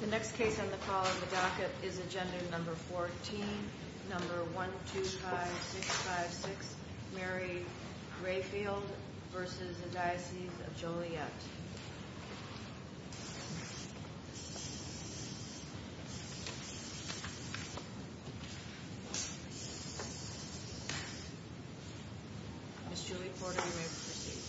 The next case on the call of the docket is Agenda No. 14, No. 125656, Mary Rehfield v. Diocese of Joliet. Ms. Julie Porter, you may proceed.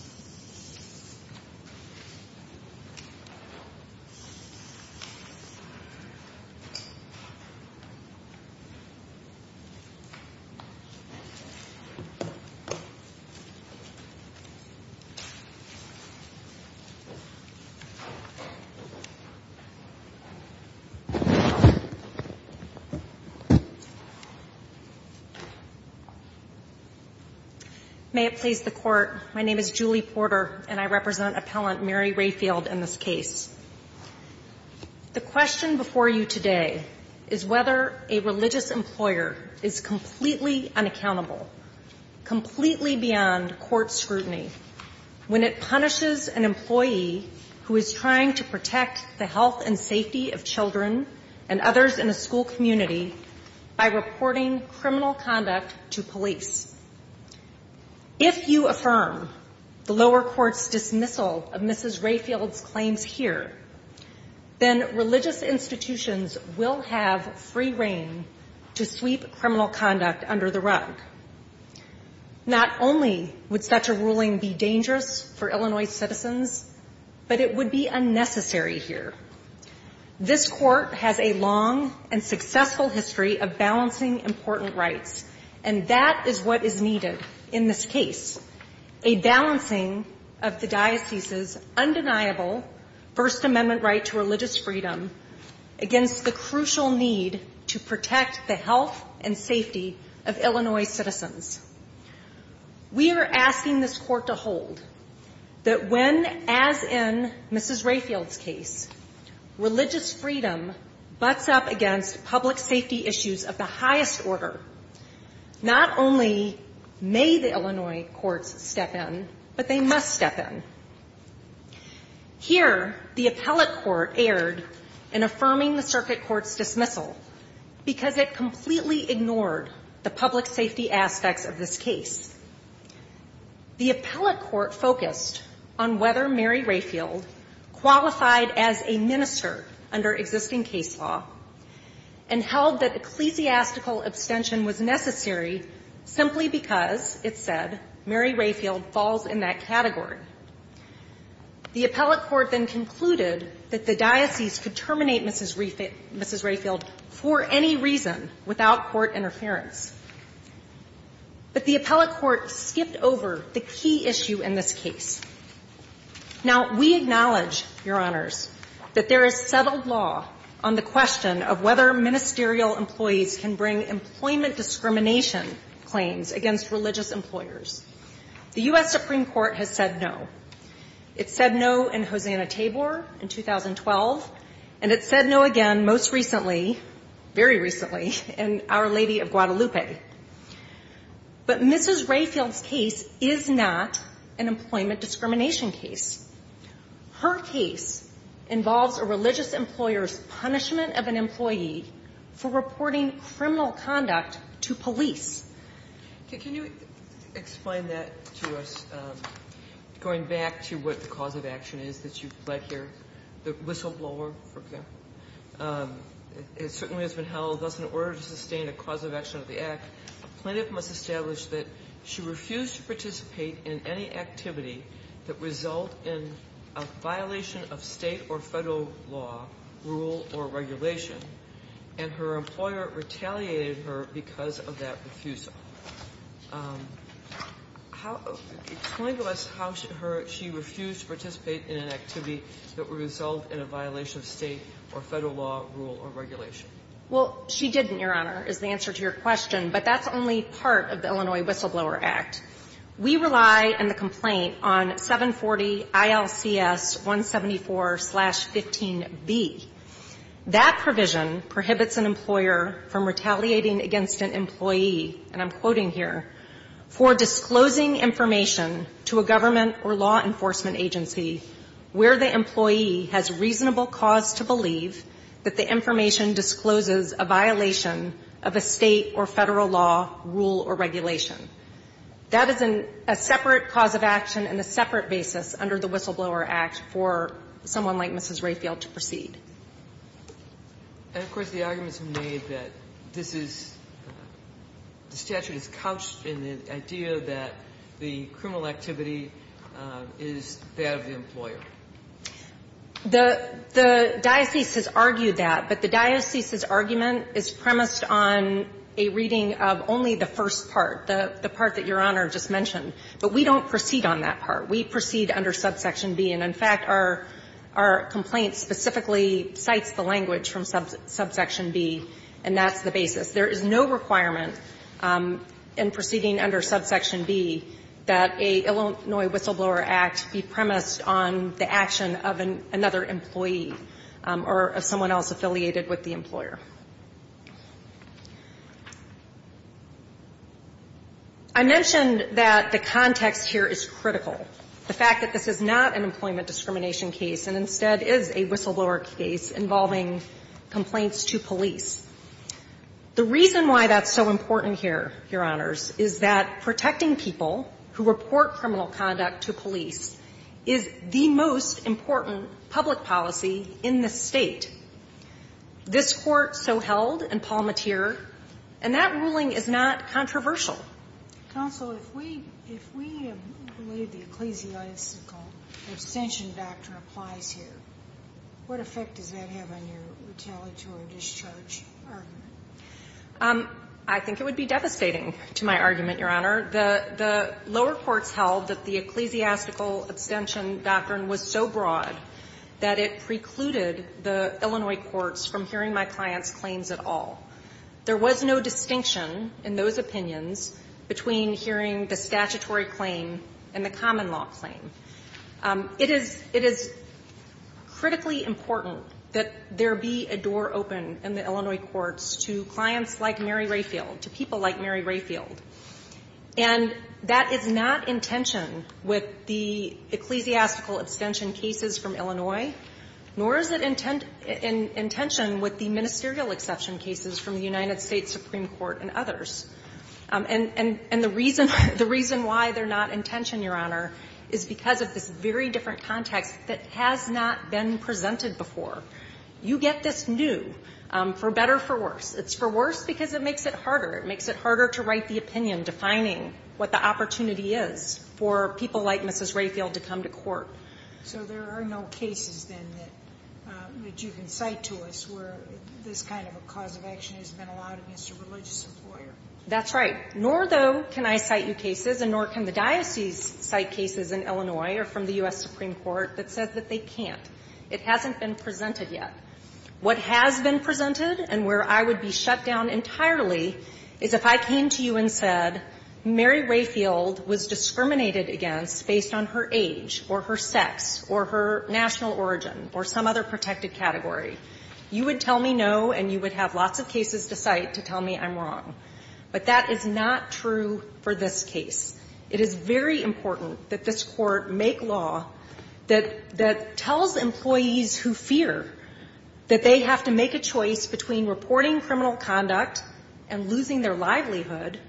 May it please the Court, my name is Julie Porter, and I represent appellant Mary Rehfield in this case. The question before you today is whether a religious employer is completely unaccountable, completely beyond court scrutiny, when it punishes an employee who is trying to protect the health and safety of children and others in a school community by reporting criminal conduct to police. If you affirm the lower court's dismissal of Mrs. Rehfield's claims here, then religious institutions will have free reign to sweep criminal conduct under the rug. Not only would such a ruling be dangerous for Illinois citizens, but it would be unnecessary here. This Court has a long and successful history of balancing important rights, and that is what is needed in this case, a balancing of the diocese's undeniable First Amendment right to religious freedom against the crucial need to protect the health and safety of Illinois citizens. We are asking this Court to hold that when, as in Mrs. Rehfield's case, religious freedom butts up against public safety issues of the highest order, not only may the Illinois courts step in, but they must step in. Here, the appellate court erred in affirming the circuit court's dismissal, because it completely ignored the public safety aspects of this case. The appellate court focused on whether Mary Rehfield qualified as a minister under existing case law and held that ecclesiastical abstention was necessary simply because, it said, Mary Rehfield falls in that category. The appellate court then concluded that the diocese could terminate Mrs. Rehfield for any reason without court interference. But the appellate court skipped over the key issue in this case. Now, we acknowledge, Your Honors, that there is settled law on the question of whether ministerial employees can bring employment discrimination claims against religious employers. The U.S. Supreme Court has said no. It said no in Hosanna Tabor in 2012, and it said no again most recently, very recently, in Our Lady of Guadalupe. But Mrs. Rehfield's case is not an employment discrimination case. Her case involves a religious employer's punishment of an employee for reporting criminal conduct to police. Can you explain that to us, going back to what the cause of action is that you've led here, the whistleblower, for example? It certainly has been held, thus, in order to sustain a cause of action of the act, a plaintiff must establish that she refused to participate in any activity that result in a violation of state or federal law, rule, or regulation, and her employer retaliated her because of that refusal. Explain to us how she refused to participate in an activity that would result in a violation of state or federal law, rule, or regulation. Well, she didn't, Your Honor, is the answer to your question. But that's only part of the Illinois Whistleblower Act. We rely in the complaint on 740 ILCS 174-15b. That provision prohibits an employer from retaliating against an employee, and I'm quoting here, for disclosing information to a government or law enforcement agency where the employee has reasonable cause to believe that the information discloses a violation of a state or federal law, rule, or regulation. That is a separate cause of action and a separate basis under the Whistleblower Act for someone like Mrs. Rayfield to proceed. And, of course, the arguments made that this is the statute is couched in the idea that the criminal activity is that of the employer. The diocese has argued that, but the diocese's argument is premised on a reading of only the first part, the part that Your Honor just mentioned. But we don't proceed on that part. We proceed under subsection B. And, in fact, our complaint specifically cites the language from subsection B, and that's the basis. There is no requirement in proceeding under subsection B that a Illinois Whistleblower Act be premised on the action of another employee or of someone else affiliated with the employer. I mentioned that the context here is critical, the fact that this is not an employment discrimination case and instead is a whistleblower case involving complaints to police. The reason why that's so important here, Your Honors, is that protecting people who report criminal conduct to police is the most important public policy in this State. This Court so held in Palmatier, and that ruling is not controversial. Counsel, if we believe the ecclesiastical abstention doctrine applies here, what effect does that have on your retaliatory discharge argument? I think it would be devastating to my argument, Your Honor. The lower courts held that the ecclesiastical abstention doctrine was so broad that it precluded the Illinois courts from hearing my client's claims at all. There was no distinction in those opinions between hearing the statutory claim and the common law claim. It is critically important that there be a door open in the Illinois courts to clients like Mary Rayfield, to people like Mary Rayfield. And that is not in tension with the ecclesiastical abstention cases from Illinois, nor is it in tension with the ministerial exception cases from the United States Supreme Court and others. And the reason why they're not in tension, Your Honor, is because of this very different context that has not been presented before. You get this new, for better or for worse. It's for worse because it makes it harder. It makes it harder to write the opinion defining what the opportunity is for people like Mrs. Rayfield to come to court. So there are no cases, then, that you can cite to us where this kind of a cause of action has been allowed against a religious employer. That's right. Nor, though, can I cite you cases, and nor can the diocese cite cases in Illinois or from the U.S. Supreme Court that says that they can't. It hasn't been presented yet. What has been presented and where I would be shut down entirely is if I came to you and said, Mary Rayfield was discriminated against based on her age or her sex or her national origin or some other protected category. You would tell me no, and you would have lots of cases to cite to tell me I'm wrong. But that is not true for this case. It is very important that this Court make law that tells employees who fear that they have to make a choice between reporting criminal conduct and losing their livelihood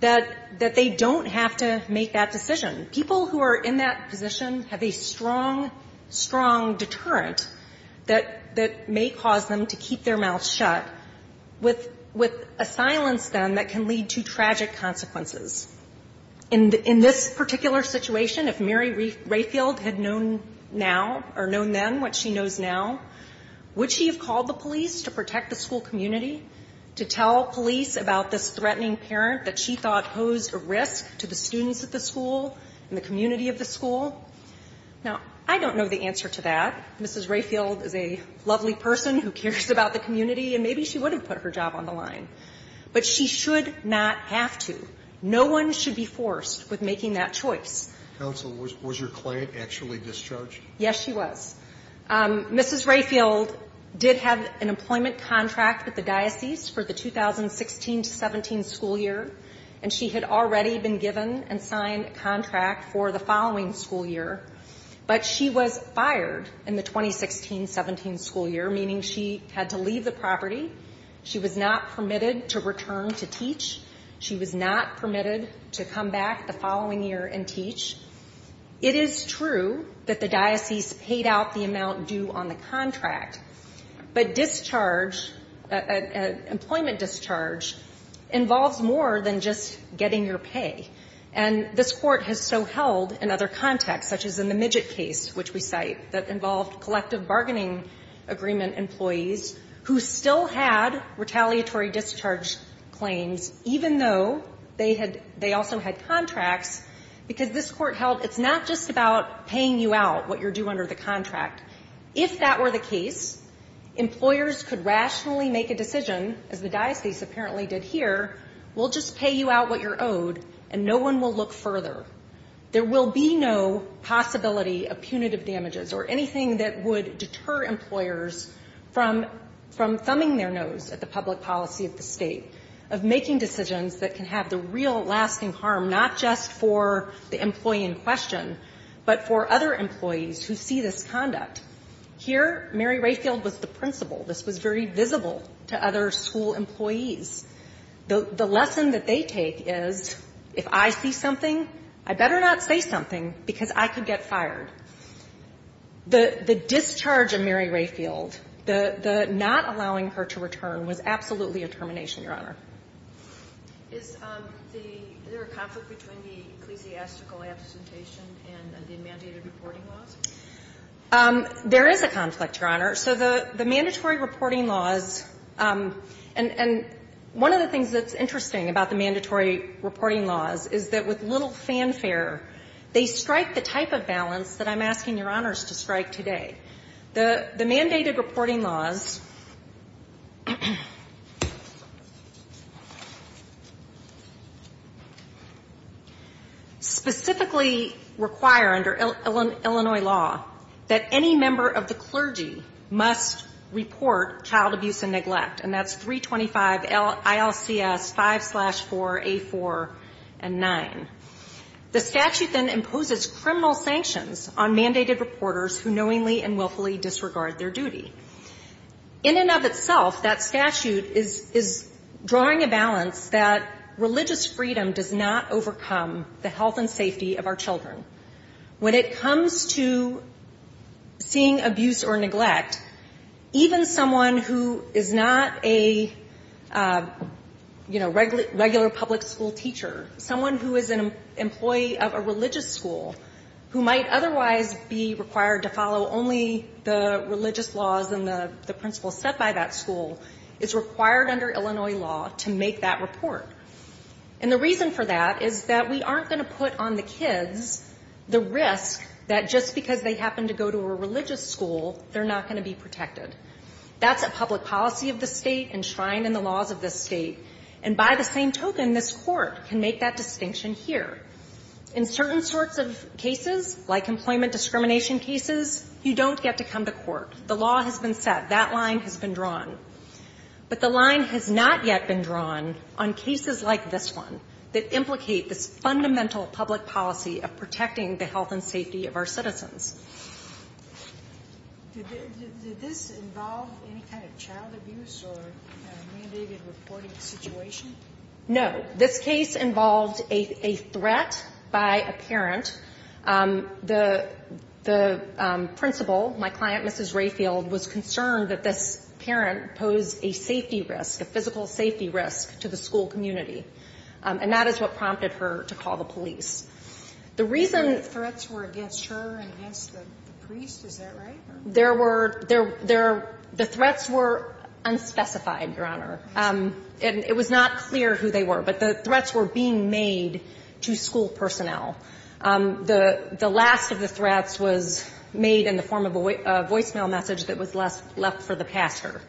that they don't have to make that decision. People who are in that position have a strong, strong deterrent that may cause them to keep their mouths shut with a silence, then, that can lead to tragic consequences. In this particular situation, if Mary Rayfield had known now or known then what she knows now, would she have called the police to protect the school community, to tell police about this threatening parent that she thought posed a risk to the school and the community of the school? Now, I don't know the answer to that. Mrs. Rayfield is a lovely person who cares about the community, and maybe she would have put her job on the line. But she should not have to. No one should be forced with making that choice. Sotomayor, was your client actually discharged? Yes, she was. Mrs. Rayfield did have an employment contract with the diocese for the 2016 to 17 school year, and she had already been given and signed a contract for the following school year. But she was fired in the 2016-17 school year, meaning she had to leave the property. She was not permitted to return to teach. She was not permitted to come back the following year and teach. It is true that the diocese paid out the amount due on the contract. But discharge, employment discharge, involves more than just getting your pay. And this Court has so held in other contexts, such as in the Midgett case, which we cite, that involved collective bargaining agreement employees who still had retaliatory discharge claims, even though they had they also had contracts. Because this Court held it's not just about paying you out what you're due under the contract. If that were the case, employers could rationally make a decision, as the diocese apparently did here, we'll just pay you out what you're owed and no one will look further. There will be no possibility of punitive damages or anything that would deter employers from thumbing their nose at the public policy of the state, of making decisions that can have the real lasting harm, not just for the employee in question, but for other employees who see this conduct. Here, Mary Rayfield was the principal. This was very visible to other school employees. The lesson that they take is, if I see something, I better not say something because I could get fired. The discharge of Mary Rayfield, the not allowing her to return, was absolutely a termination, Your Honor. Is there a conflict between the ecclesiastical absentation and the mandated reporting laws? There is a conflict, Your Honor. So the mandatory reporting laws, and one of the things that's interesting about the mandatory reporting laws is that with little fanfare, they strike the type of balance that I'm asking Your Honors to strike today. The mandated reporting laws specifically require under Illinois law that any member of the clergy must report child abuse and neglect, and that's 325 ILCS 5-4A4-9. The statute then imposes criminal sanctions on mandated reporters who knowingly and willfully disregard their duty. In and of itself, that statute is drawing a balance that religious freedom does not overcome the health and safety of our children. When it comes to seeing abuse or neglect, even someone who is not a, you know, regular public school teacher, someone who is an employee of a religious school who might otherwise be required to follow only the religious laws and the principles set by that school is required under Illinois law to make that report. And the reason for that is that we aren't going to put on the kids the risk that just because they happen to go to a religious school, they're not going to be protected. That's a public policy of the state enshrined in the laws of this state. And by the same token, this Court can make that distinction here. In certain sorts of cases, like employment discrimination cases, you don't get to come to court. The law has been set. That line has been drawn. But the line has not yet been drawn on cases like this one that implicate this fundamental public policy of protecting the health and safety of our citizens. Did this involve any kind of child abuse or a mandated reporting situation? No. This case involved a threat by a parent. The principal, my client, Mrs. Rayfield, was concerned that this parent posed a safety risk, a physical safety risk to the school community. And that is what prompted her to call the police. The reason the threats were against her and against the priest, is that right? The threats were unspecified, Your Honor. And it was not clear who they were. But the threats were being made to school personnel. The last of the threats was made in the form of a voicemail message that was left for the pastor.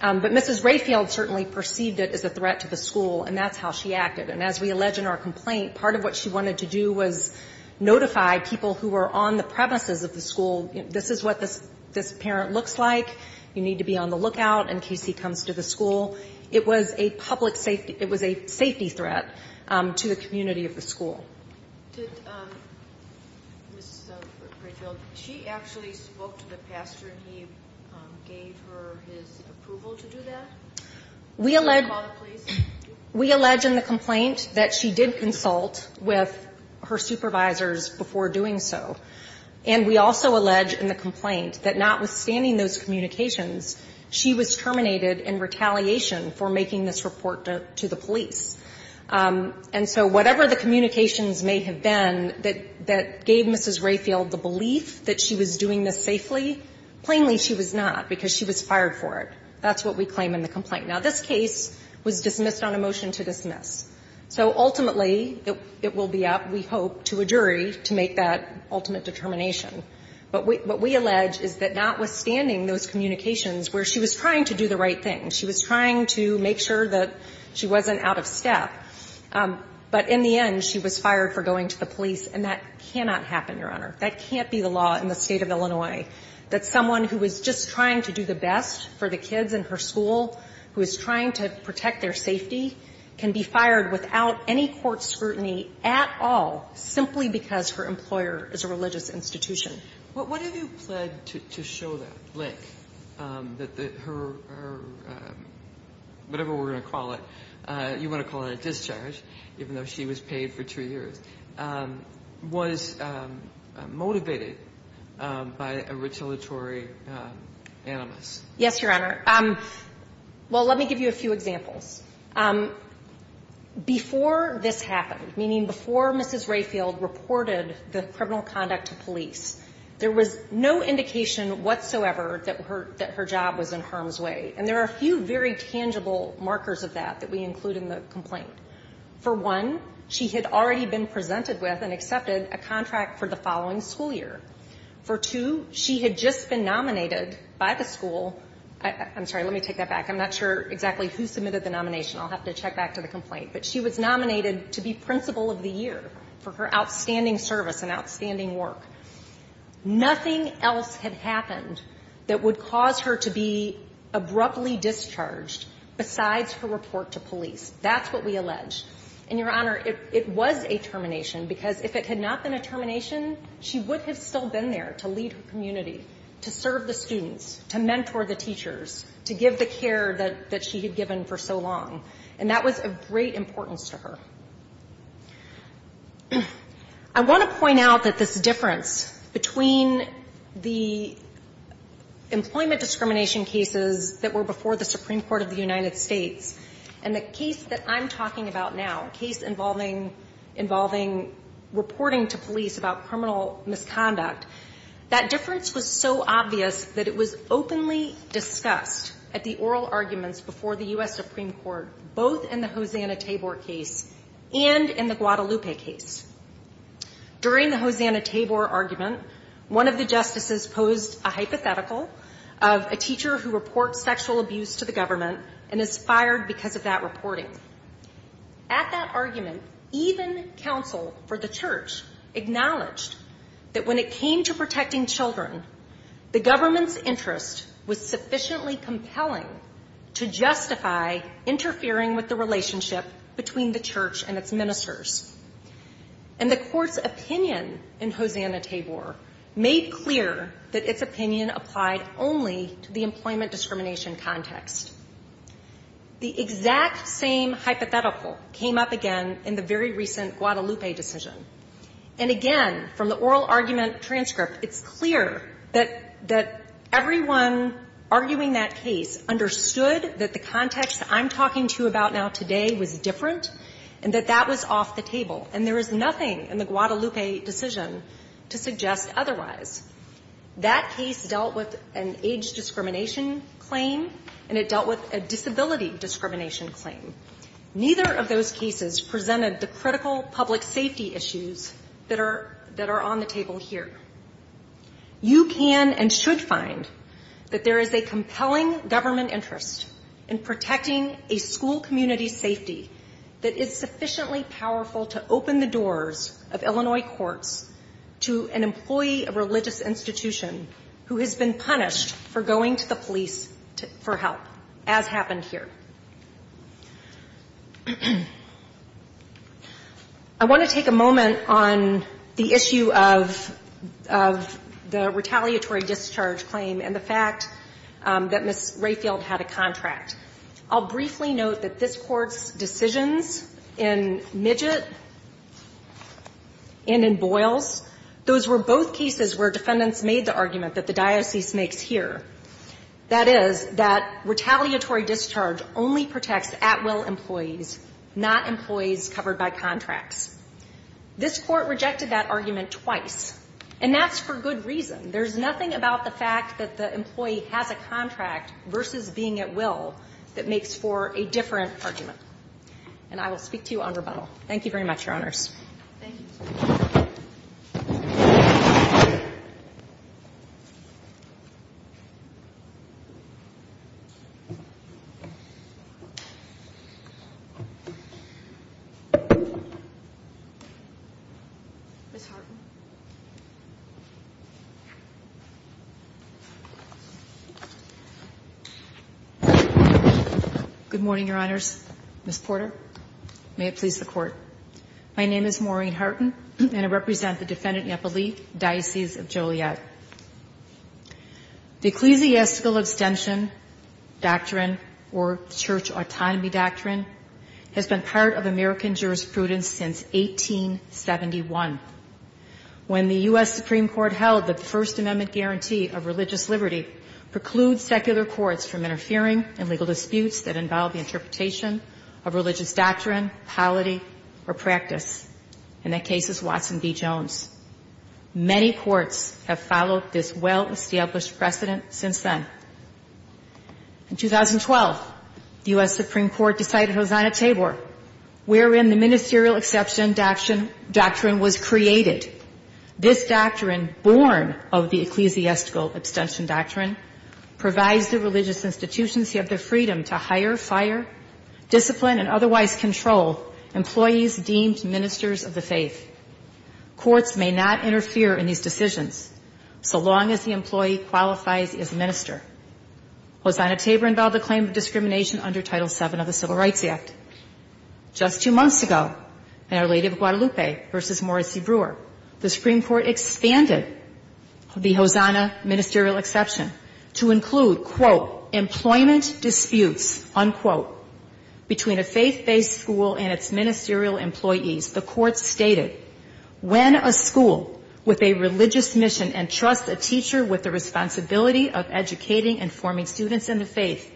But Mrs. Rayfield certainly perceived it as a threat to the school, and that's how she acted. And as we allege in our complaint, part of what she wanted to do was notify people who were on the premises of the school. This is what this parent looks like. You need to be on the lookout in case he comes to the school. It was a public safety, it was a safety threat to the community of the school. Did Mrs. Rayfield, she actually spoke to the pastor and he gave her his approval to do that? Did he call the police? We allege in the complaint that she did consult with her supervisors before doing so. And we also allege in the complaint that notwithstanding those communications, she was terminated in retaliation for making this report to the police. And so whatever the communications may have been that gave Mrs. Rayfield the belief that she was doing this safely, plainly she was not, because she was fired for it. That's what we claim in the complaint. Now, this case was dismissed on a motion to dismiss. So ultimately it will be up, we hope, to a jury to make that ultimate determination. But what we allege is that notwithstanding those communications where she was trying to do the right thing, she was trying to make sure that she wasn't out of step, but in the end she was fired for going to the police. And that cannot happen, Your Honor. That can't be the law in the State of Illinois, that someone who was just trying to do the best for the kids in her school, who is trying to protect their safety, can be fired without any court scrutiny at all simply because her employer is a religious institution. What have you pled to show that, Blake, that her, whatever we're going to call it, you want to call it a discharge, even though she was paid for two years, was motivated by a retaliatory animus? Yes, Your Honor. Well, let me give you a few examples. Before this happened, meaning before Mrs. Rayfield reported the criminal conduct to police, there was no indication whatsoever that her job was in harm's way. And there are a few very tangible markers of that that we include in the complaint. For one, she had already been presented with and accepted a contract for the following school year. For two, she had just been nominated by the school. I'm sorry, let me take that back. I'm not sure exactly who submitted the nomination. I'll have to check back to the complaint. But she was nominated to be principal of the year for her outstanding service and outstanding work. Nothing else had happened that would cause her to be abruptly discharged besides her report to police. That's what we allege. And, Your Honor, it was a termination, because if it had not been a termination, she would have still been there to lead her community, to serve the students, to mentor the teachers, to give the care that she had given for so long. And that was of great importance to her. I want to point out that this difference between the employment discrimination cases that were before the Supreme Court of the United States and the case that I'm talking about now, a case involving reporting to police about criminal misconduct, that difference was so obvious that it was openly discussed at the oral arguments before the U.S. Supreme Court, both in the Hosanna-Tabor case and in the Guadalupe case. During the Hosanna-Tabor argument, one of the justices posed a hypothetical of a teacher who reports sexual abuse to the government and is fired because of that reporting. At that argument, even counsel for the church acknowledged that when it came to protecting children, the government's interest was sufficiently compelling to justify interfering with the relationship between the church and its ministers. And the court's opinion in Hosanna-Tabor made clear that its opinion applied only to the employment discrimination context. The exact same hypothetical came up again in the very recent Guadalupe decision. And again, from the oral argument transcript, it's clear that everyone arguing that case understood that the context I'm talking to about now today was different and that that was off the table. And there is nothing in the Guadalupe decision to suggest otherwise. That case dealt with an age discrimination claim, and it dealt with a disability discrimination claim. Neither of those cases presented the critical public safety issues that are on the table here. You can and should find that there is a compelling government interest in protecting a school community's safety that is sufficiently powerful to open the institution who has been punished for going to the police for help, as happened here. I want to take a moment on the issue of the retaliatory discharge claim and the fact that Ms. Rayfield had a contract. I'll briefly note that this Court's decisions in Midgett and in Boyles, those were both cases where defendants made the argument that the diocese makes here, that is, that retaliatory discharge only protects at-will employees, not employees covered by contracts. This Court rejected that argument twice, and that's for good reason. There's nothing about the fact that the employee has a contract versus being at will that makes for a different argument. And I will speak to you on rebuttal. Thank you very much, Your Honors. Ms. Hartman. Good morning, Your Honors. Ms. Porter. May it please the Court. My name is Maureen Hartman, and I represent the Defendant Nepali Diocese of Joliet. The ecclesiastical abstention doctrine, or church autonomy doctrine, has been part of American jurisprudence since 1871, when the U.S. Supreme Court held that the First Amendment guarantee of religious liberty precludes secular courts from interfering in legal disputes that involve the interpretation of religious doctrine, polity, or practice. And that case is Watson v. Jones. Many courts have followed this well-established precedent since then. In 2012, the U.S. Supreme Court decided Hosanna-Tabor, wherein the ministerial exception doctrine was created. This doctrine, born of the ecclesiastical abstention doctrine, provides the religious institutions who have the freedom to hire, fire, discipline, and otherwise control employees deemed ministers of the faith. Courts may not interfere in these decisions so long as the employee qualifies as minister. Hosanna-Tabor involved a claim of discrimination under Title VII of the Civil Rights Act. Just two months ago, in Our Lady of Guadalupe v. Morrissey Brewer, the Supreme Court found that employment disputes, unquote, between a faith-based school and its ministerial employees, the Court stated, when a school with a religious mission entrusts a teacher with the responsibility of educating and forming students in the faith,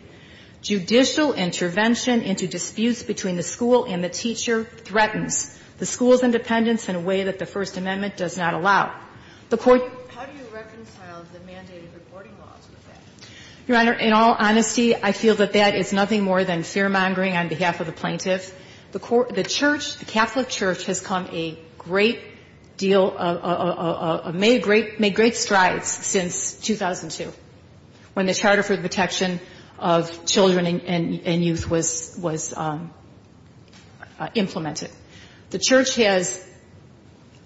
judicial intervention into disputes between the school and the teacher threatens the school's independence in a way that the First Amendment does not allow. How do you reconcile the mandated reporting laws with that? Your Honor, in all honesty, I feel that that is nothing more than fear-mongering on behalf of the plaintiff. The Church, the Catholic Church, has come a great deal, made great strides since 2002, when the Charter for the Protection of Children and Youth was implemented. The Church has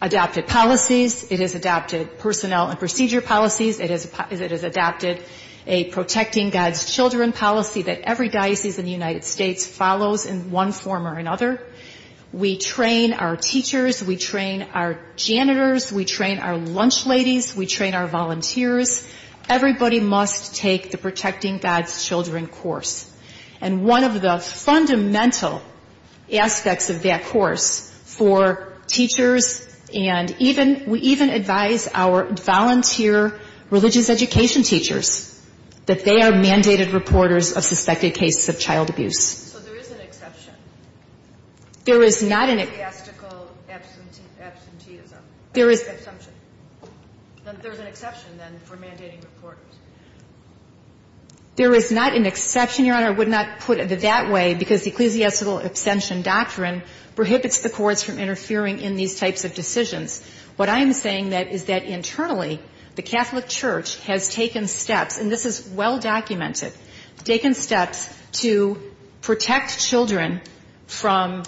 adopted policies. It has adopted personnel and procedure policies. It has adopted a Protecting God's Children policy that every diocese in the United States follows in one form or another. We train our teachers. We train our janitors. We train our lunch ladies. We train our volunteers. Everybody must take the Protecting God's Children course. And one of the fundamental aspects of that course for teachers and even we even advise our volunteer religious education teachers that they are mandated reporters of suspected cases of child abuse. So there is an exception. There is not an exception. There is a theastical absenteeism. There is an exception. There is an exception, then, for mandating reporters. There is not an exception, Your Honor. I would not put it that way because the ecclesiastical abstention doctrine prohibits the courts from interfering in these types of decisions. What I am saying is that internally, the Catholic Church has taken steps, and this is well documented, taken steps to protect children from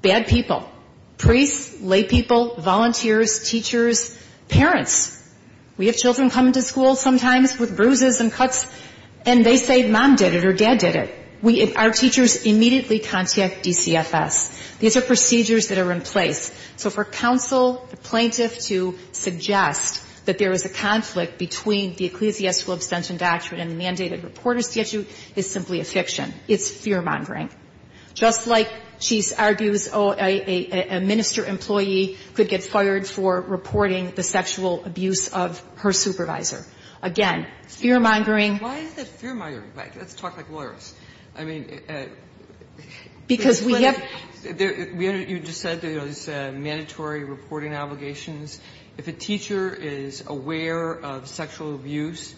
bad people, priests, lay people, volunteers, teachers, parents. We have children come to school sometimes with bruises and cuts, and they say mom did it or dad did it. Our teachers immediately contact DCFS. These are procedures that are in place. So for counsel, the plaintiff to suggest that there is a conflict between the ecclesiastical abstention doctrine and the mandated reporter statute is simply a fiction. It's fear-mongering. Just like she argues a minister employee could get fired for reporting the sexual abuse of her supervisor. Again, fear-mongering. Sotomayor, why is it fear-mongering? Let's talk like lawyers. I mean, because we have to. You just said there is mandatory reporting obligations. If a teacher is aware of sexual abuse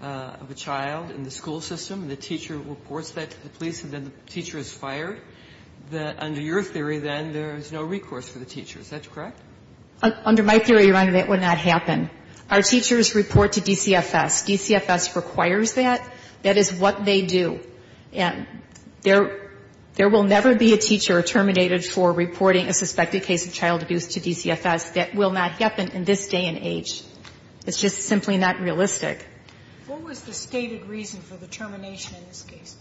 of a child in the school system and the teacher reports that to the police and then the teacher is fired, that under your theory then there is no recourse for the teacher. Is that correct? Under my theory, Your Honor, that would not happen. Our teachers report to DCFS. DCFS requires that. That is what they do. There will never be a teacher terminated for reporting a suspected case of child abuse to DCFS. That will not happen in this day and age. It's just simply not realistic. What was the stated reason for the termination in this case?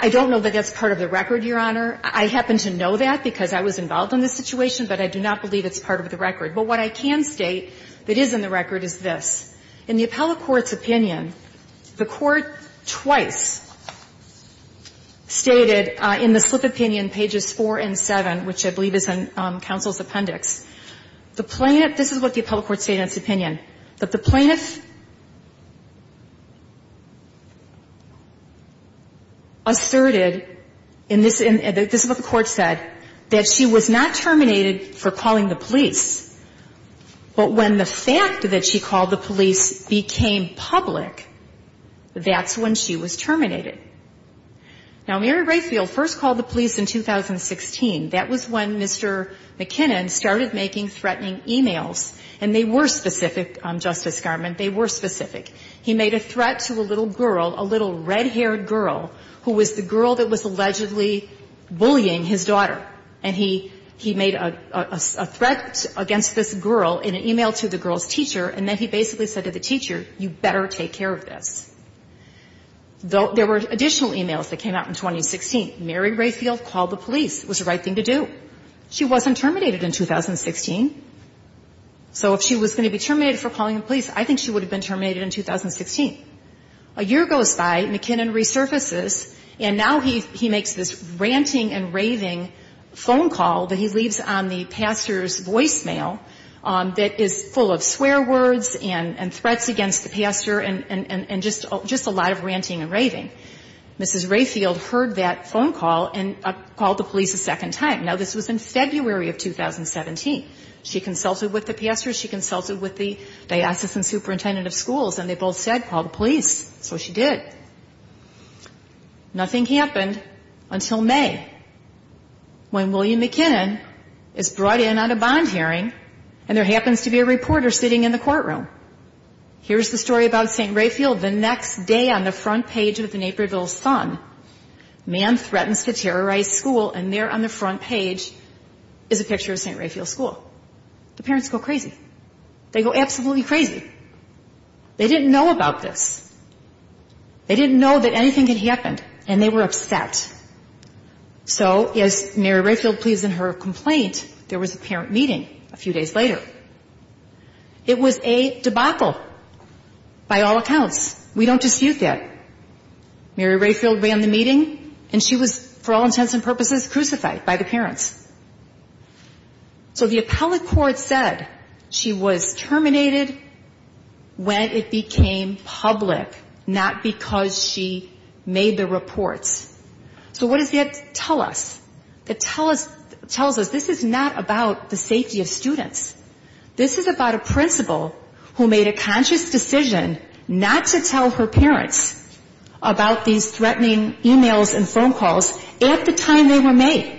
I don't know that that's part of the record, Your Honor. I happen to know that because I was involved in this situation, but I do not believe it's part of the record. But what I can state that is in the record is this. In the appellate court's opinion, the court twice stated in the slip opinion pages 4 and 7, which I believe is in counsel's appendix, the plaintiff, this is what the appellate court stated in its opinion, that the plaintiff asserted, and this is what the court said, that she was not terminated for calling the police. But when the fact that she called the police became public, that's when she was terminated. Now, Mary Brayfield first called the police in 2016. That was when Mr. McKinnon started making threatening e-mails, and they were specific, Justice Garment. They were specific. He made a threat to a little girl, a little red-haired girl, who was the girl that was allegedly bullying his daughter. And he made a threat against this girl in an e-mail to the girl's teacher, and then he basically said to the teacher, you better take care of this. There were additional e-mails that came out in 2016. Mary Brayfield called the police. It was the right thing to do. She wasn't terminated in 2016. So if she was going to be terminated for calling the police, I think she would have been terminated in 2016. A year goes by, McKinnon resurfaces, and now he makes this ranting and raving phone call that he leaves on the pastor's voicemail that is full of swear words and threats against the pastor and just a lot of ranting and raving. Mrs. Brayfield heard that phone call and called the police a second time. Now, this was in February of 2017. She consulted with the pastor. She consulted with the diocesan superintendent of schools, and they both said call the police. So she did. Nothing happened until May when William McKinnon is brought in on a bond hearing, and there happens to be a reporter sitting in the courtroom. Here's the story about St. Rayfield. The next day on the front page of the Naperville Sun, man threatens to terrorize school, and there on the front page is a picture of St. Rayfield School. The parents go crazy. They go absolutely crazy. They didn't know about this. They didn't know that anything had happened, and they were upset. So, as Mary Brayfield pleads in her complaint, there was a parent meeting a few days later. It was a debacle by all accounts. We don't dispute that. Mary Brayfield ran the meeting, and she was, for all intents and purposes, crucified by the parents. So the appellate court said she was terminated when it became public, not because she made the reports. So what does that tell us? It tells us this is not about the safety of students. This is about a principal who made a conscious decision not to tell her parents about these threatening e-mails and phone calls at the time they were made.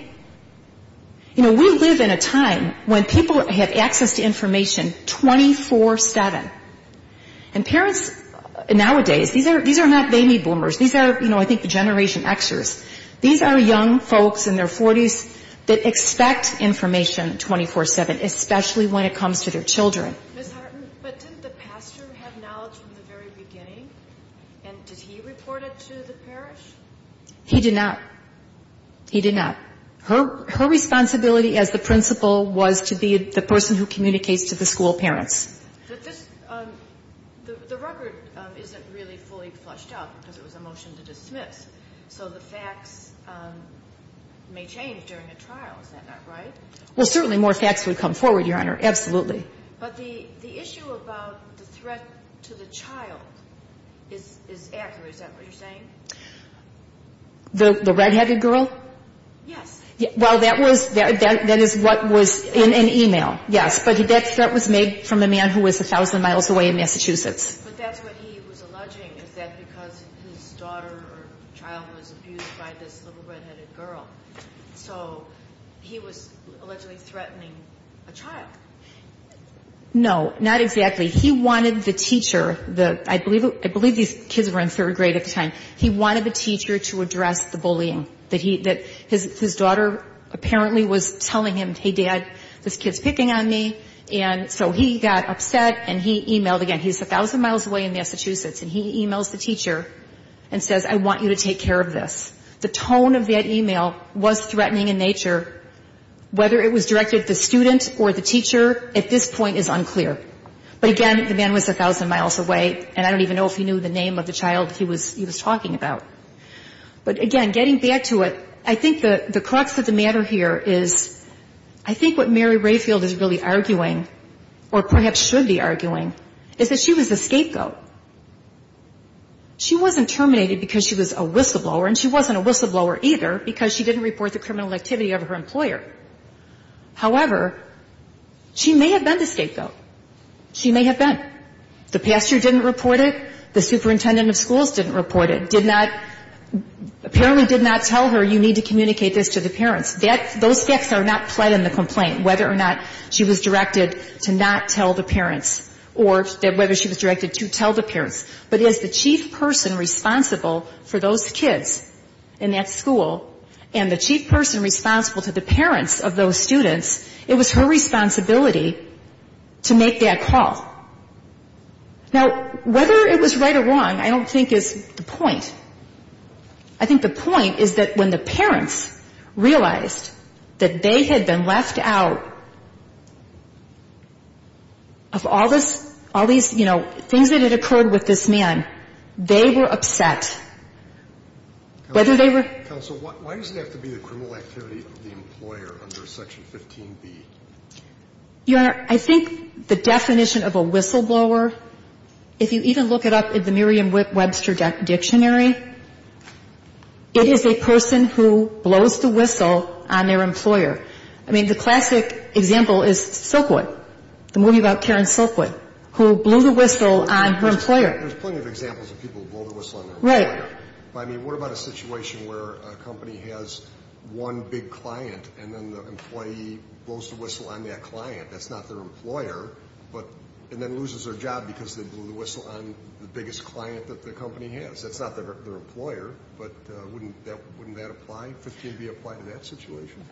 You know, we live in a time when people have access to information 24-7. And parents nowadays, these are not baby boomers. These are, you know, I think the Generation Xers. These are young folks in their 40s that expect information 24-7, especially when it comes to their children. Ms. Hartman, but didn't the pastor have knowledge from the very beginning? And did he report it to the parish? He did not. He did not. Her responsibility as the principal was to be the person who communicates to the school parents. But this, the record isn't really fully flushed out because it was a motion to dismiss. So the facts may change during a trial. Is that not right? Well, certainly more facts would come forward, Your Honor. Absolutely. But the issue about the threat to the child is accurate. Is that what you're saying? The redheaded girl? Yes. Well, that is what was in an e-mail, yes. But that threat was made from a man who was 1,000 miles away in Massachusetts. But that's what he was alleging, is that because his daughter or child was abused by this little redheaded girl. So he was allegedly threatening a child. No, not exactly. He wanted the teacher, I believe these kids were in third grade at the time, he wanted the teacher to address the bullying. His daughter apparently was telling him, hey, Dad, this kid's picking on me. And so he got upset and he e-mailed again. He's 1,000 miles away in Massachusetts and he e-mails the teacher and says, I want you to take care of this. The tone of that e-mail was threatening in nature. Whether it was directed at the student or the teacher at this point is unclear. But, again, the man was 1,000 miles away, and I don't even know if he knew the name of the child he was talking about. But, again, getting back to it, I think the crux of the matter here is I think what we all perhaps should be arguing is that she was a scapegoat. She wasn't terminated because she was a whistleblower, and she wasn't a whistleblower either because she didn't report the criminal activity of her employer. However, she may have been the scapegoat. She may have been. The pastor didn't report it. The superintendent of schools didn't report it. Did not, apparently did not tell her you need to communicate this to the parents. Those facts are not pled in the complaint, whether or not she was directed to not tell the parents or whether she was directed to tell the parents. But as the chief person responsible for those kids in that school and the chief person responsible to the parents of those students, it was her responsibility to make that call. Now, whether it was right or wrong I don't think is the point. I think the point is that when the parents realized that they had been left out of all this, all these, you know, things that had occurred with this man, they were upset. Whether they were. Counsel, why does it have to be the criminal activity of the employer under Section 15B? Your Honor, I think the definition of a whistleblower, if you even look it up in the Merriam-Webster dictionary, it is a person who blows the whistle on their employer. I mean, the classic example is Silkwood, the movie about Karen Silkwood, who blew the whistle on her employer. There's plenty of examples of people who blow the whistle on their employer. Right. But, I mean, what about a situation where a company has one big client and then the employee blows the whistle on that client? That's not their employer. But, and then loses their job because they blew the whistle on the biggest client that the company has. That's not their employer. But wouldn't that apply, 15B, apply to that situation?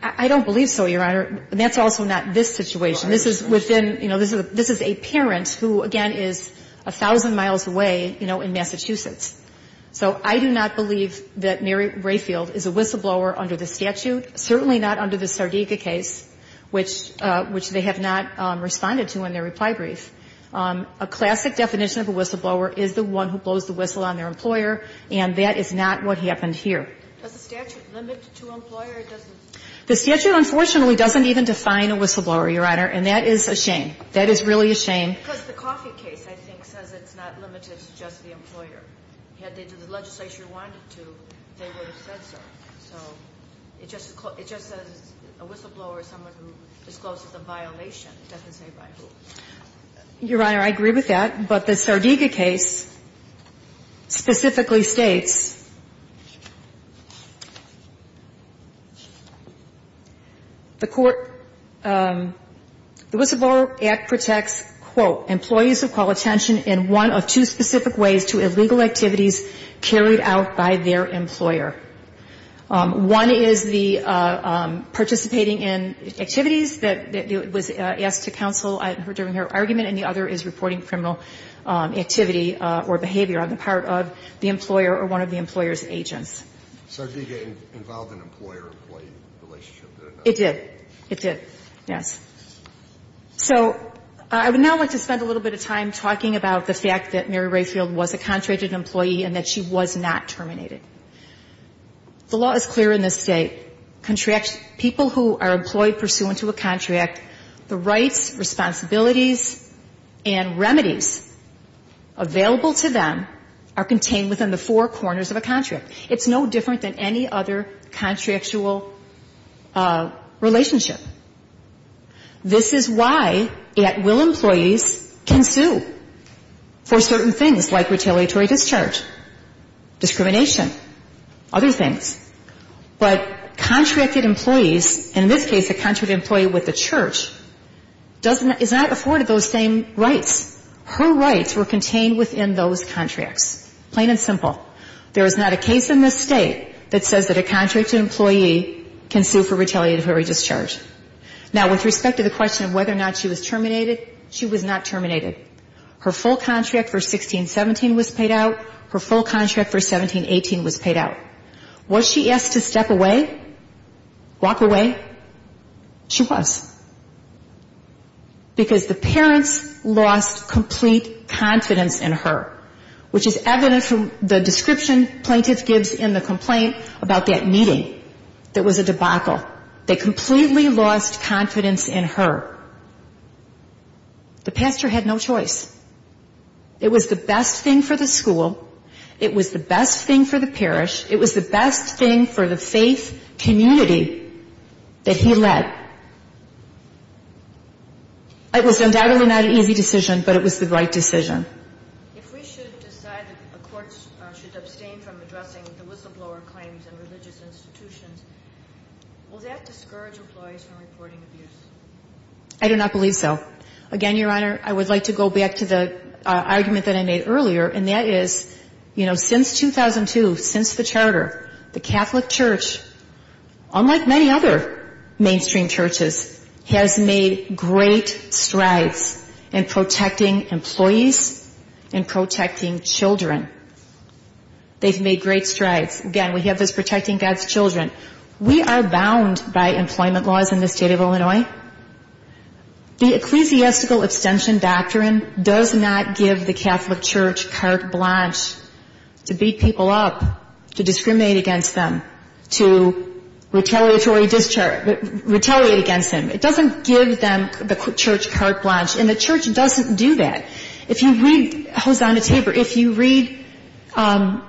I don't believe so, Your Honor. And that's also not this situation. This is within, you know, this is a parent who, again, is a thousand miles away, you know, in Massachusetts. So I do not believe that Mary Rayfield is a whistleblower under the statute, certainly not under the Sardega case, which they have not responded to in their reply brief. A classic definition of a whistleblower is the one who blows the whistle on their employer, and that is not what happened here. Does the statute limit to employer? It doesn't? The statute, unfortunately, doesn't even define a whistleblower, Your Honor, and that is a shame. That is really a shame. Because the Coffey case, I think, says it's not limited to just the employer. Had they done the legislation they wanted to, they would have said so. So it just says a whistleblower is someone who discloses a violation. It doesn't say by who. Your Honor, I agree with that. But the Sardega case specifically states, the whistleblower act protects, quote, employees who call attention in one of two specific ways to illegal activities carried out by their employer. One is the participating in activities that was asked to counsel during her argument, and the other is reporting criminal activity or behavior on the part of the employer or one of the employer's agents. Sardega involved an employer-employee relationship? It did. It did, yes. So I would now like to spend a little bit of time talking about the fact that Mary The law is clear in this State. People who are employed pursuant to a contract, the rights, responsibilities, and remedies available to them are contained within the four corners of a contract. It's no different than any other contractual relationship. This is why at-will employees can sue for certain things like retaliatory discharge, discrimination, other things. But contracted employees, in this case a contracted employee with a church, is not afforded those same rights. Her rights were contained within those contracts. Plain and simple. There is not a case in this State that says that a contracted employee can sue for retaliatory discharge. Now, with respect to the question of whether or not she was terminated, she was not terminated. Her full contract for 16-17 was paid out. Her full contract for 17-18 was paid out. Was she asked to step away? Walk away? She was. Because the parents lost complete confidence in her, which is evident from the description plaintiffs gives in the complaint about that meeting that was a debacle. They completely lost confidence in her. The pastor had no choice. It was the best thing for the school. It was the best thing for the parish. It was the best thing for the faith community that he led. It was undoubtedly not an easy decision, but it was the right decision. If we should decide that the courts should abstain from addressing the whistleblower claims in religious institutions, will that discourage employees from reporting abuse? I do not believe so. Again, Your Honor, I would like to go back to the argument that I made earlier, and that is, you know, since 2002, since the charter, the Catholic Church, unlike many other mainstream churches, has made great strides in protecting employees and protecting children. They've made great strides. Again, we have this protecting God's children. We are bound by employment laws in the state of Illinois. The ecclesiastical abstention doctrine does not give the Catholic Church carte blanche to beat people up, to discriminate against them, to retaliate against them. It doesn't give them, the church, carte blanche. And the church doesn't do that. If you read Hosanna Tabor, if you read Guadalupe,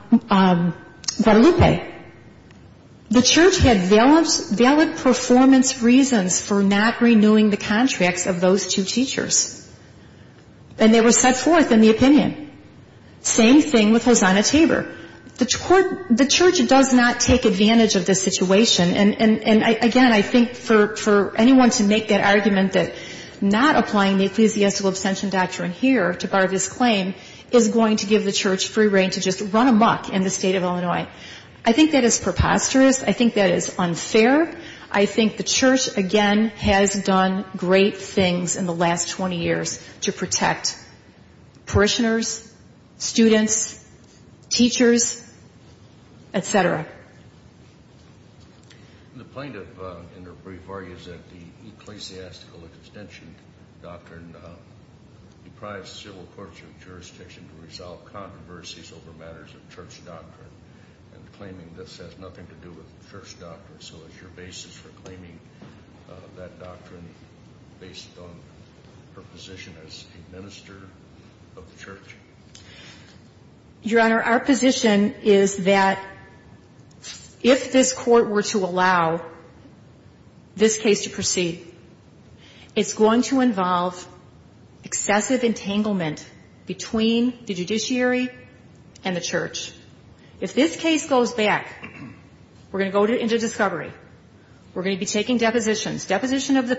the church had valid performance reasons for not renewing the contracts of those two teachers. And they were set forth in the opinion. Same thing with Hosanna Tabor. The church does not take advantage of the situation. And, again, I think for anyone to make that argument that not applying the ecclesiastical abstention doctrine here to bar this claim is going to give the church free reign to just run amuck in the state of Illinois, I think that is preposterous. I think that is unfair. I think the church, again, has done great things in the last 20 years to protect parishioners, students, teachers, et cetera. The plaintiff, in her brief, argues that the ecclesiastical abstention doctrine deprives civil courts of jurisdiction to resolve controversies over matters of church doctrine, and claiming this has nothing to do with church doctrine. So is your basis for claiming that doctrine based on her position as a minister of the church? Your Honor, our position is that if this Court were to allow this case to proceed, it's going to involve excessive entanglement between the judiciary and the church. If this case goes back, we're going to go into discovery. We're going to be taking depositions, deposition of the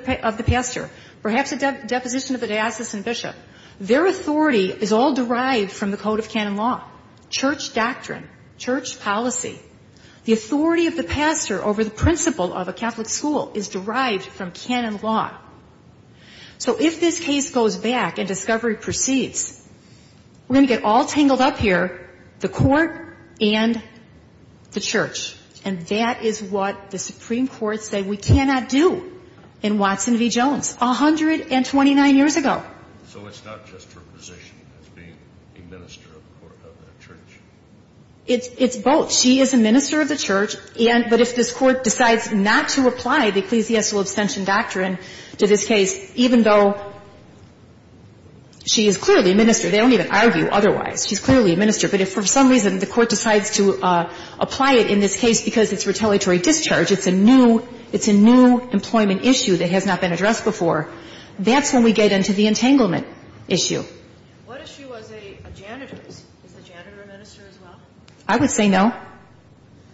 pastor, perhaps a deposition of the diocesan bishop. Their authority is all derived from the code of canon law, church doctrine, church policy. The authority of the pastor over the principal of a Catholic school is derived from canon law. So if this case goes back and discovery proceeds, we're going to get all tangled up here, the court and the church. And that is what the Supreme Court said we cannot do in Watson v. Jones 129 years ago. So it's not just her position as being a minister of the church? It's both. She is a minister of the church, but if this Court decides not to apply the ecclesiastical abstention doctrine to this case, even though she is clearly a minister. They don't even argue otherwise. She's clearly a minister. But if for some reason the Court decides to apply it in this case because it's retaliatory discharge, it's a new employment issue that has not been addressed before, that's when we get into the entanglement issue. What if she was a janitor? Is the janitor a minister as well? I would say no.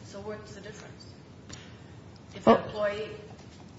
So what's the difference? If an employee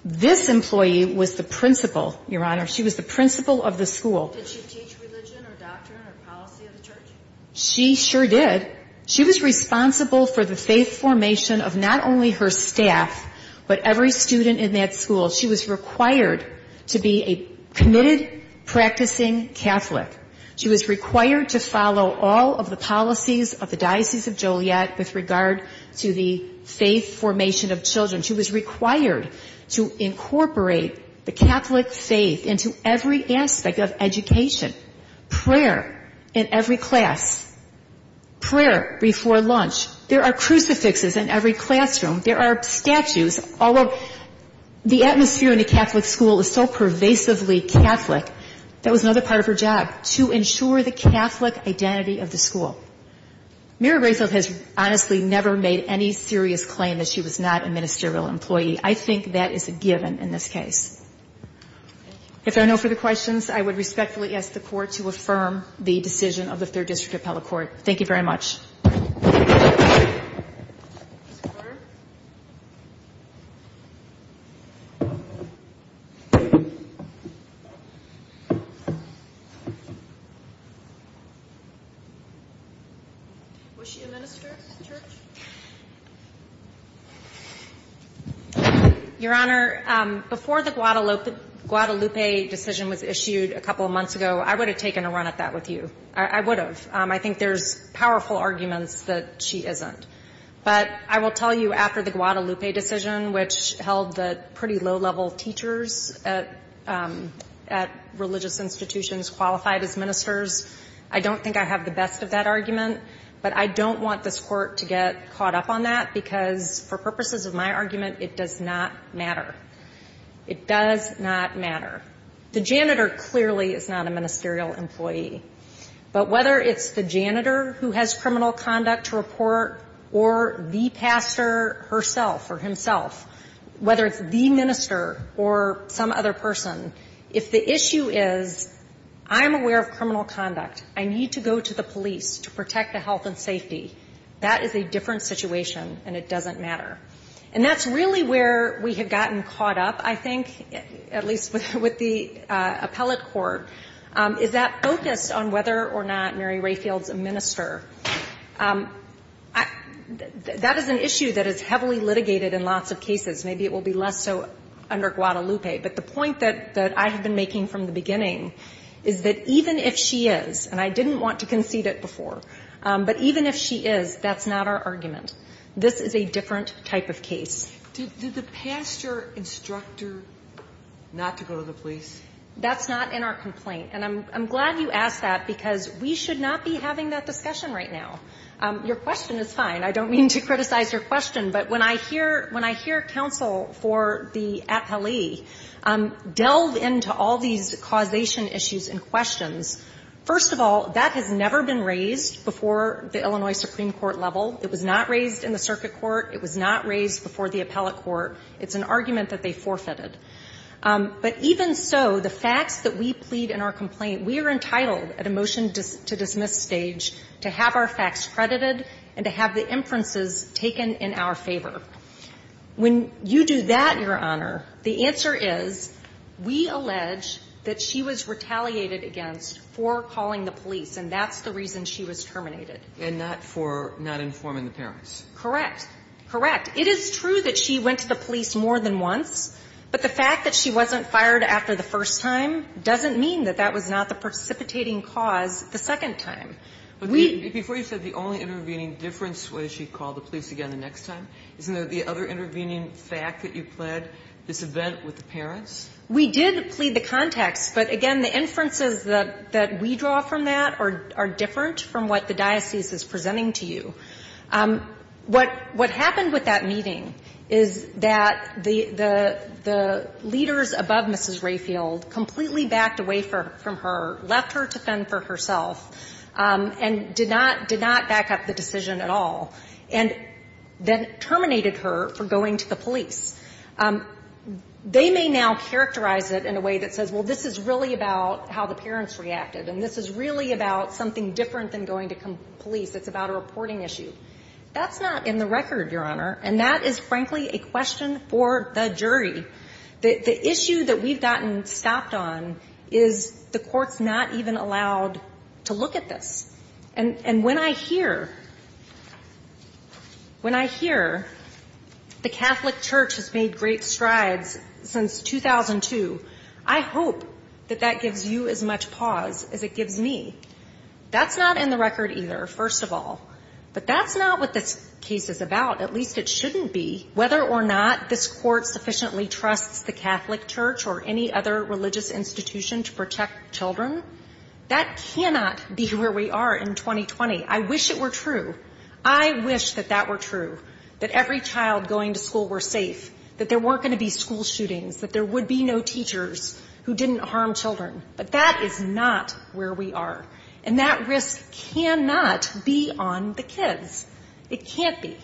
This employee was the principal, Your Honor. She was the principal of the school. Did she teach religion or doctrine or policy of the church? She sure did. She was responsible for the faith formation of not only her staff, but every student in that school. She was required to be a committed, practicing Catholic. She was required to follow all of the policies of the Diocese of Joliet with regard to the faith formation of children. She was required to incorporate the Catholic faith into every aspect of education, prayer in every class, prayer before lunch. There are crucifixes in every classroom. There are statues. The atmosphere in a Catholic school is so pervasively Catholic. That was another part of her job, to ensure the Catholic identity of the school. Mary Gracefield has honestly never made any serious claim that she was not a ministerial employee. I think that is a given in this case. If there are no further questions, I would respectfully ask the Court to affirm the decision of the Third District Appellate Court. Thank you very much. Your Honor, before the Guadalupe decision was issued a couple of months ago, I would have taken a run at that with you. I would have. I think there's powerful arguments that she isn't. But I will tell you, after the Guadalupe decision, which held the pretty low-level teachers at religious institutions qualified as ministers, I don't think I have the best of that argument. But I don't want this Court to get caught up on that because, for purposes of my argument, it does not matter. It does not matter. The janitor clearly is not a ministerial employee. But whether it's the janitor who has criminal conduct to report or the pastor herself or himself, whether it's the minister or some other person, if the issue is I'm aware of criminal conduct, I need to go to the police to protect the health and safety, that is a different situation and it doesn't matter. And that's really where we have gotten caught up, I think, at least with the appellate court, is that focus on whether or not Mary Rayfield's a minister, that is an issue that is heavily litigated in lots of cases. Maybe it will be less so under Guadalupe. But the point that I have been making from the beginning is that even if she is, and I didn't want to concede it before, but even if she is, that's not our argument. This is a different type of case. Sotomayor Did the pastor instruct her not to go to the police? That's not in our complaint. And I'm glad you asked that because we should not be having that discussion right now. Your question is fine. I don't mean to criticize your question. But when I hear counsel for the appellee delve into all these causation issues and questions, first of all, that has never been raised before the Illinois Supreme Court level. It was not raised in the circuit court. It was not raised before the appellate court. It's an argument that they forfeited. But even so, the facts that we plead in our complaint, we are entitled at a motion-to-dismiss stage to have our facts credited and to have the inferences taken in our favor. When you do that, Your Honor, the answer is we allege that she was retaliated against for calling the police, and that's the reason she was terminated. And not for not informing the parents. Correct. Correct. It is true that she went to the police more than once, but the fact that she wasn't fired after the first time doesn't mean that that was not the precipitating cause the second time. We -- But before you said the only intervening difference was she called the police again the next time, isn't there the other intervening fact that you pled, this event with the parents? We did plead the context. But again, the inferences that we draw from that are different from what the diocese is presenting to you. What happened with that meeting is that the leaders above Mrs. Rayfield completely backed away from her, left her to fend for herself, and did not back up the decision at all, and then terminated her for going to the police. They may now characterize it in a way that says, well, this is really about how the parents reacted, and this is really about something different than going to police. It's about a reporting issue. That's not in the record, Your Honor. And that is, frankly, a question for the jury. The issue that we've gotten stopped on is the Court's not even allowed to look at this. And when I hear, when I hear the Catholic Church has made great strides since 2002, I hope that that gives you as much pause as it gives me. That's not in the record either. First of all. But that's not what this case is about. At least it shouldn't be. Whether or not this Court sufficiently trusts the Catholic Church or any other religious institution to protect children, that cannot be where we are in 2020. I wish it were true. I wish that that were true, that every child going to school were safe, that there weren't going to be school shootings, that there would be no teachers who didn't harm children. But that is not where we are. And that risk cannot be on the kids. It can't be.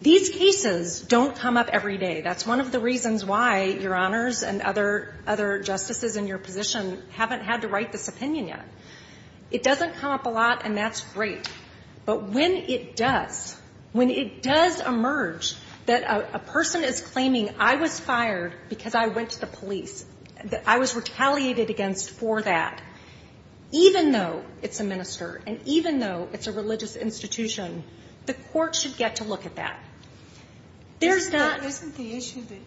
These cases don't come up every day. That's one of the reasons why Your Honors and other justices in your position haven't had to write this opinion yet. It doesn't come up a lot, and that's great. But when it does, when it does emerge that a person is claiming I was fired because I went to the police, that I was retaliated against for that, even though it's a minister and even though it's a religious institution, the Court should get to look at that. Isn't the issue that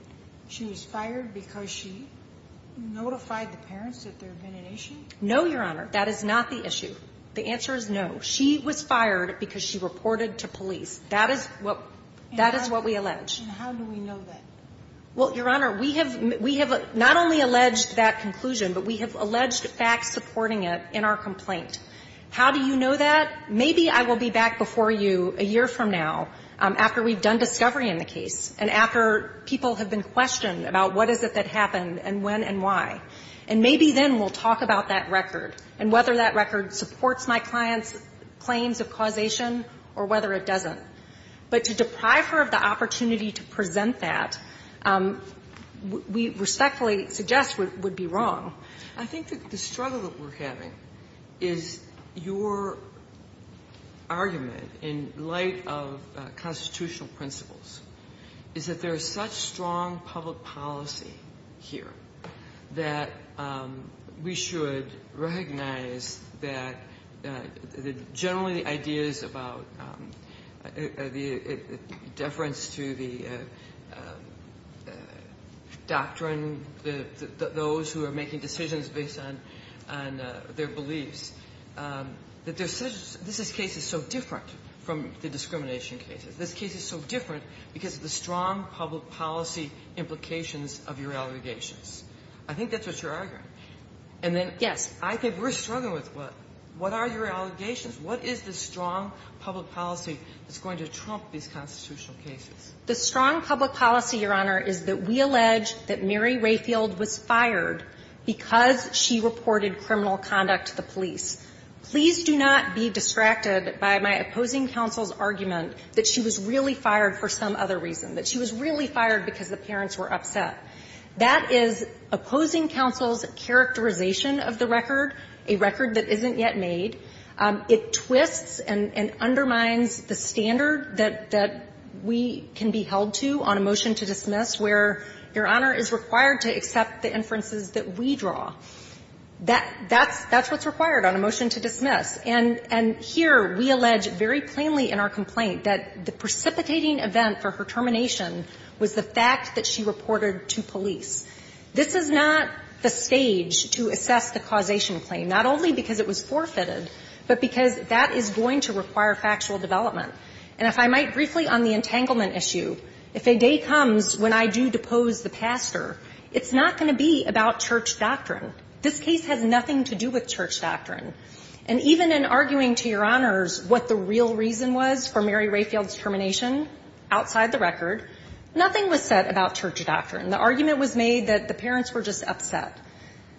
she was fired because she notified the parents that there had been an issue? No, Your Honor. That is not the issue. The answer is no. She was fired because she reported to police. That is what we allege. And how do we know that? Well, Your Honor, we have not only alleged that conclusion, but we have alleged facts supporting it in our complaint. How do you know that? Maybe I will be back before you a year from now after we've done discovery in the case and after people have been questioned about what is it that happened and when and why. And maybe then we'll talk about that record and whether that record supports my client's claims of causation or whether it doesn't. But to deprive her of the opportunity to present that, we respectfully suggest would be wrong. I think that the struggle that we're having is your argument in light of constitutional principles is that there is such strong public policy here that we should recognize that generally the ideas about deference to the doctrine, those who are making decisions based on their beliefs, that this case is so different from the discrimination cases. This case is so different because of the strong public policy implications of your allegations. I think that's what you're arguing. Yes. I think we're struggling with what? What are your allegations? What is the strong public policy that's going to trump these constitutional cases? The strong public policy, Your Honor, is that we allege that Mary Rayfield was fired because she reported criminal conduct to the police. Please do not be distracted by my opposing counsel's argument that she was really fired for some other reason, that she was really fired because the parents were upset. That is opposing counsel's characterization of the record, a record that isn't yet made. It twists and undermines the standard that we can be held to on a motion to dismiss where Your Honor is required to accept the inferences that we draw. That's what's required on a motion to dismiss. And here we allege very plainly in our complaint that the precipitating event for her termination was the fact that she reported to police. This is not the stage to assess the causation claim, not only because it was forfeited, but because that is going to require factual development. And if I might briefly on the entanglement issue, if a day comes when I do depose the pastor, it's not going to be about church doctrine. This case has nothing to do with church doctrine. And even in arguing to Your Honors what the real reason was for Mary Rayfield's termination outside the record, nothing was said about church doctrine. The argument was made that the parents were just upset.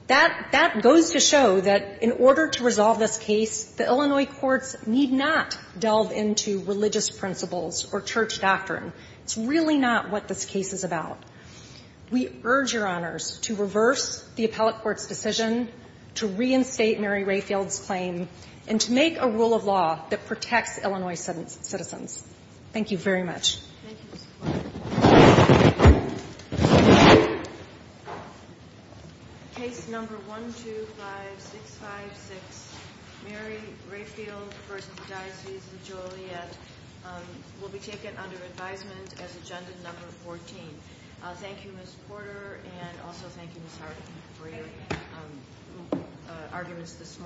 That goes to show that in order to resolve this case, the Illinois courts need not delve into religious principles or church doctrine. It's really not what this case is about. We urge Your Honors to reverse the appellate court's decision, to reinstate Mary Thank you very much. Thank you, Ms. Porter. Case number 125656, Mary Rayfield v. Diocese of Joliet, will be taken under advisement as agenda number 14. Thank you, Ms. Porter, and also thank you, Ms. Harden, for your arguments this morning.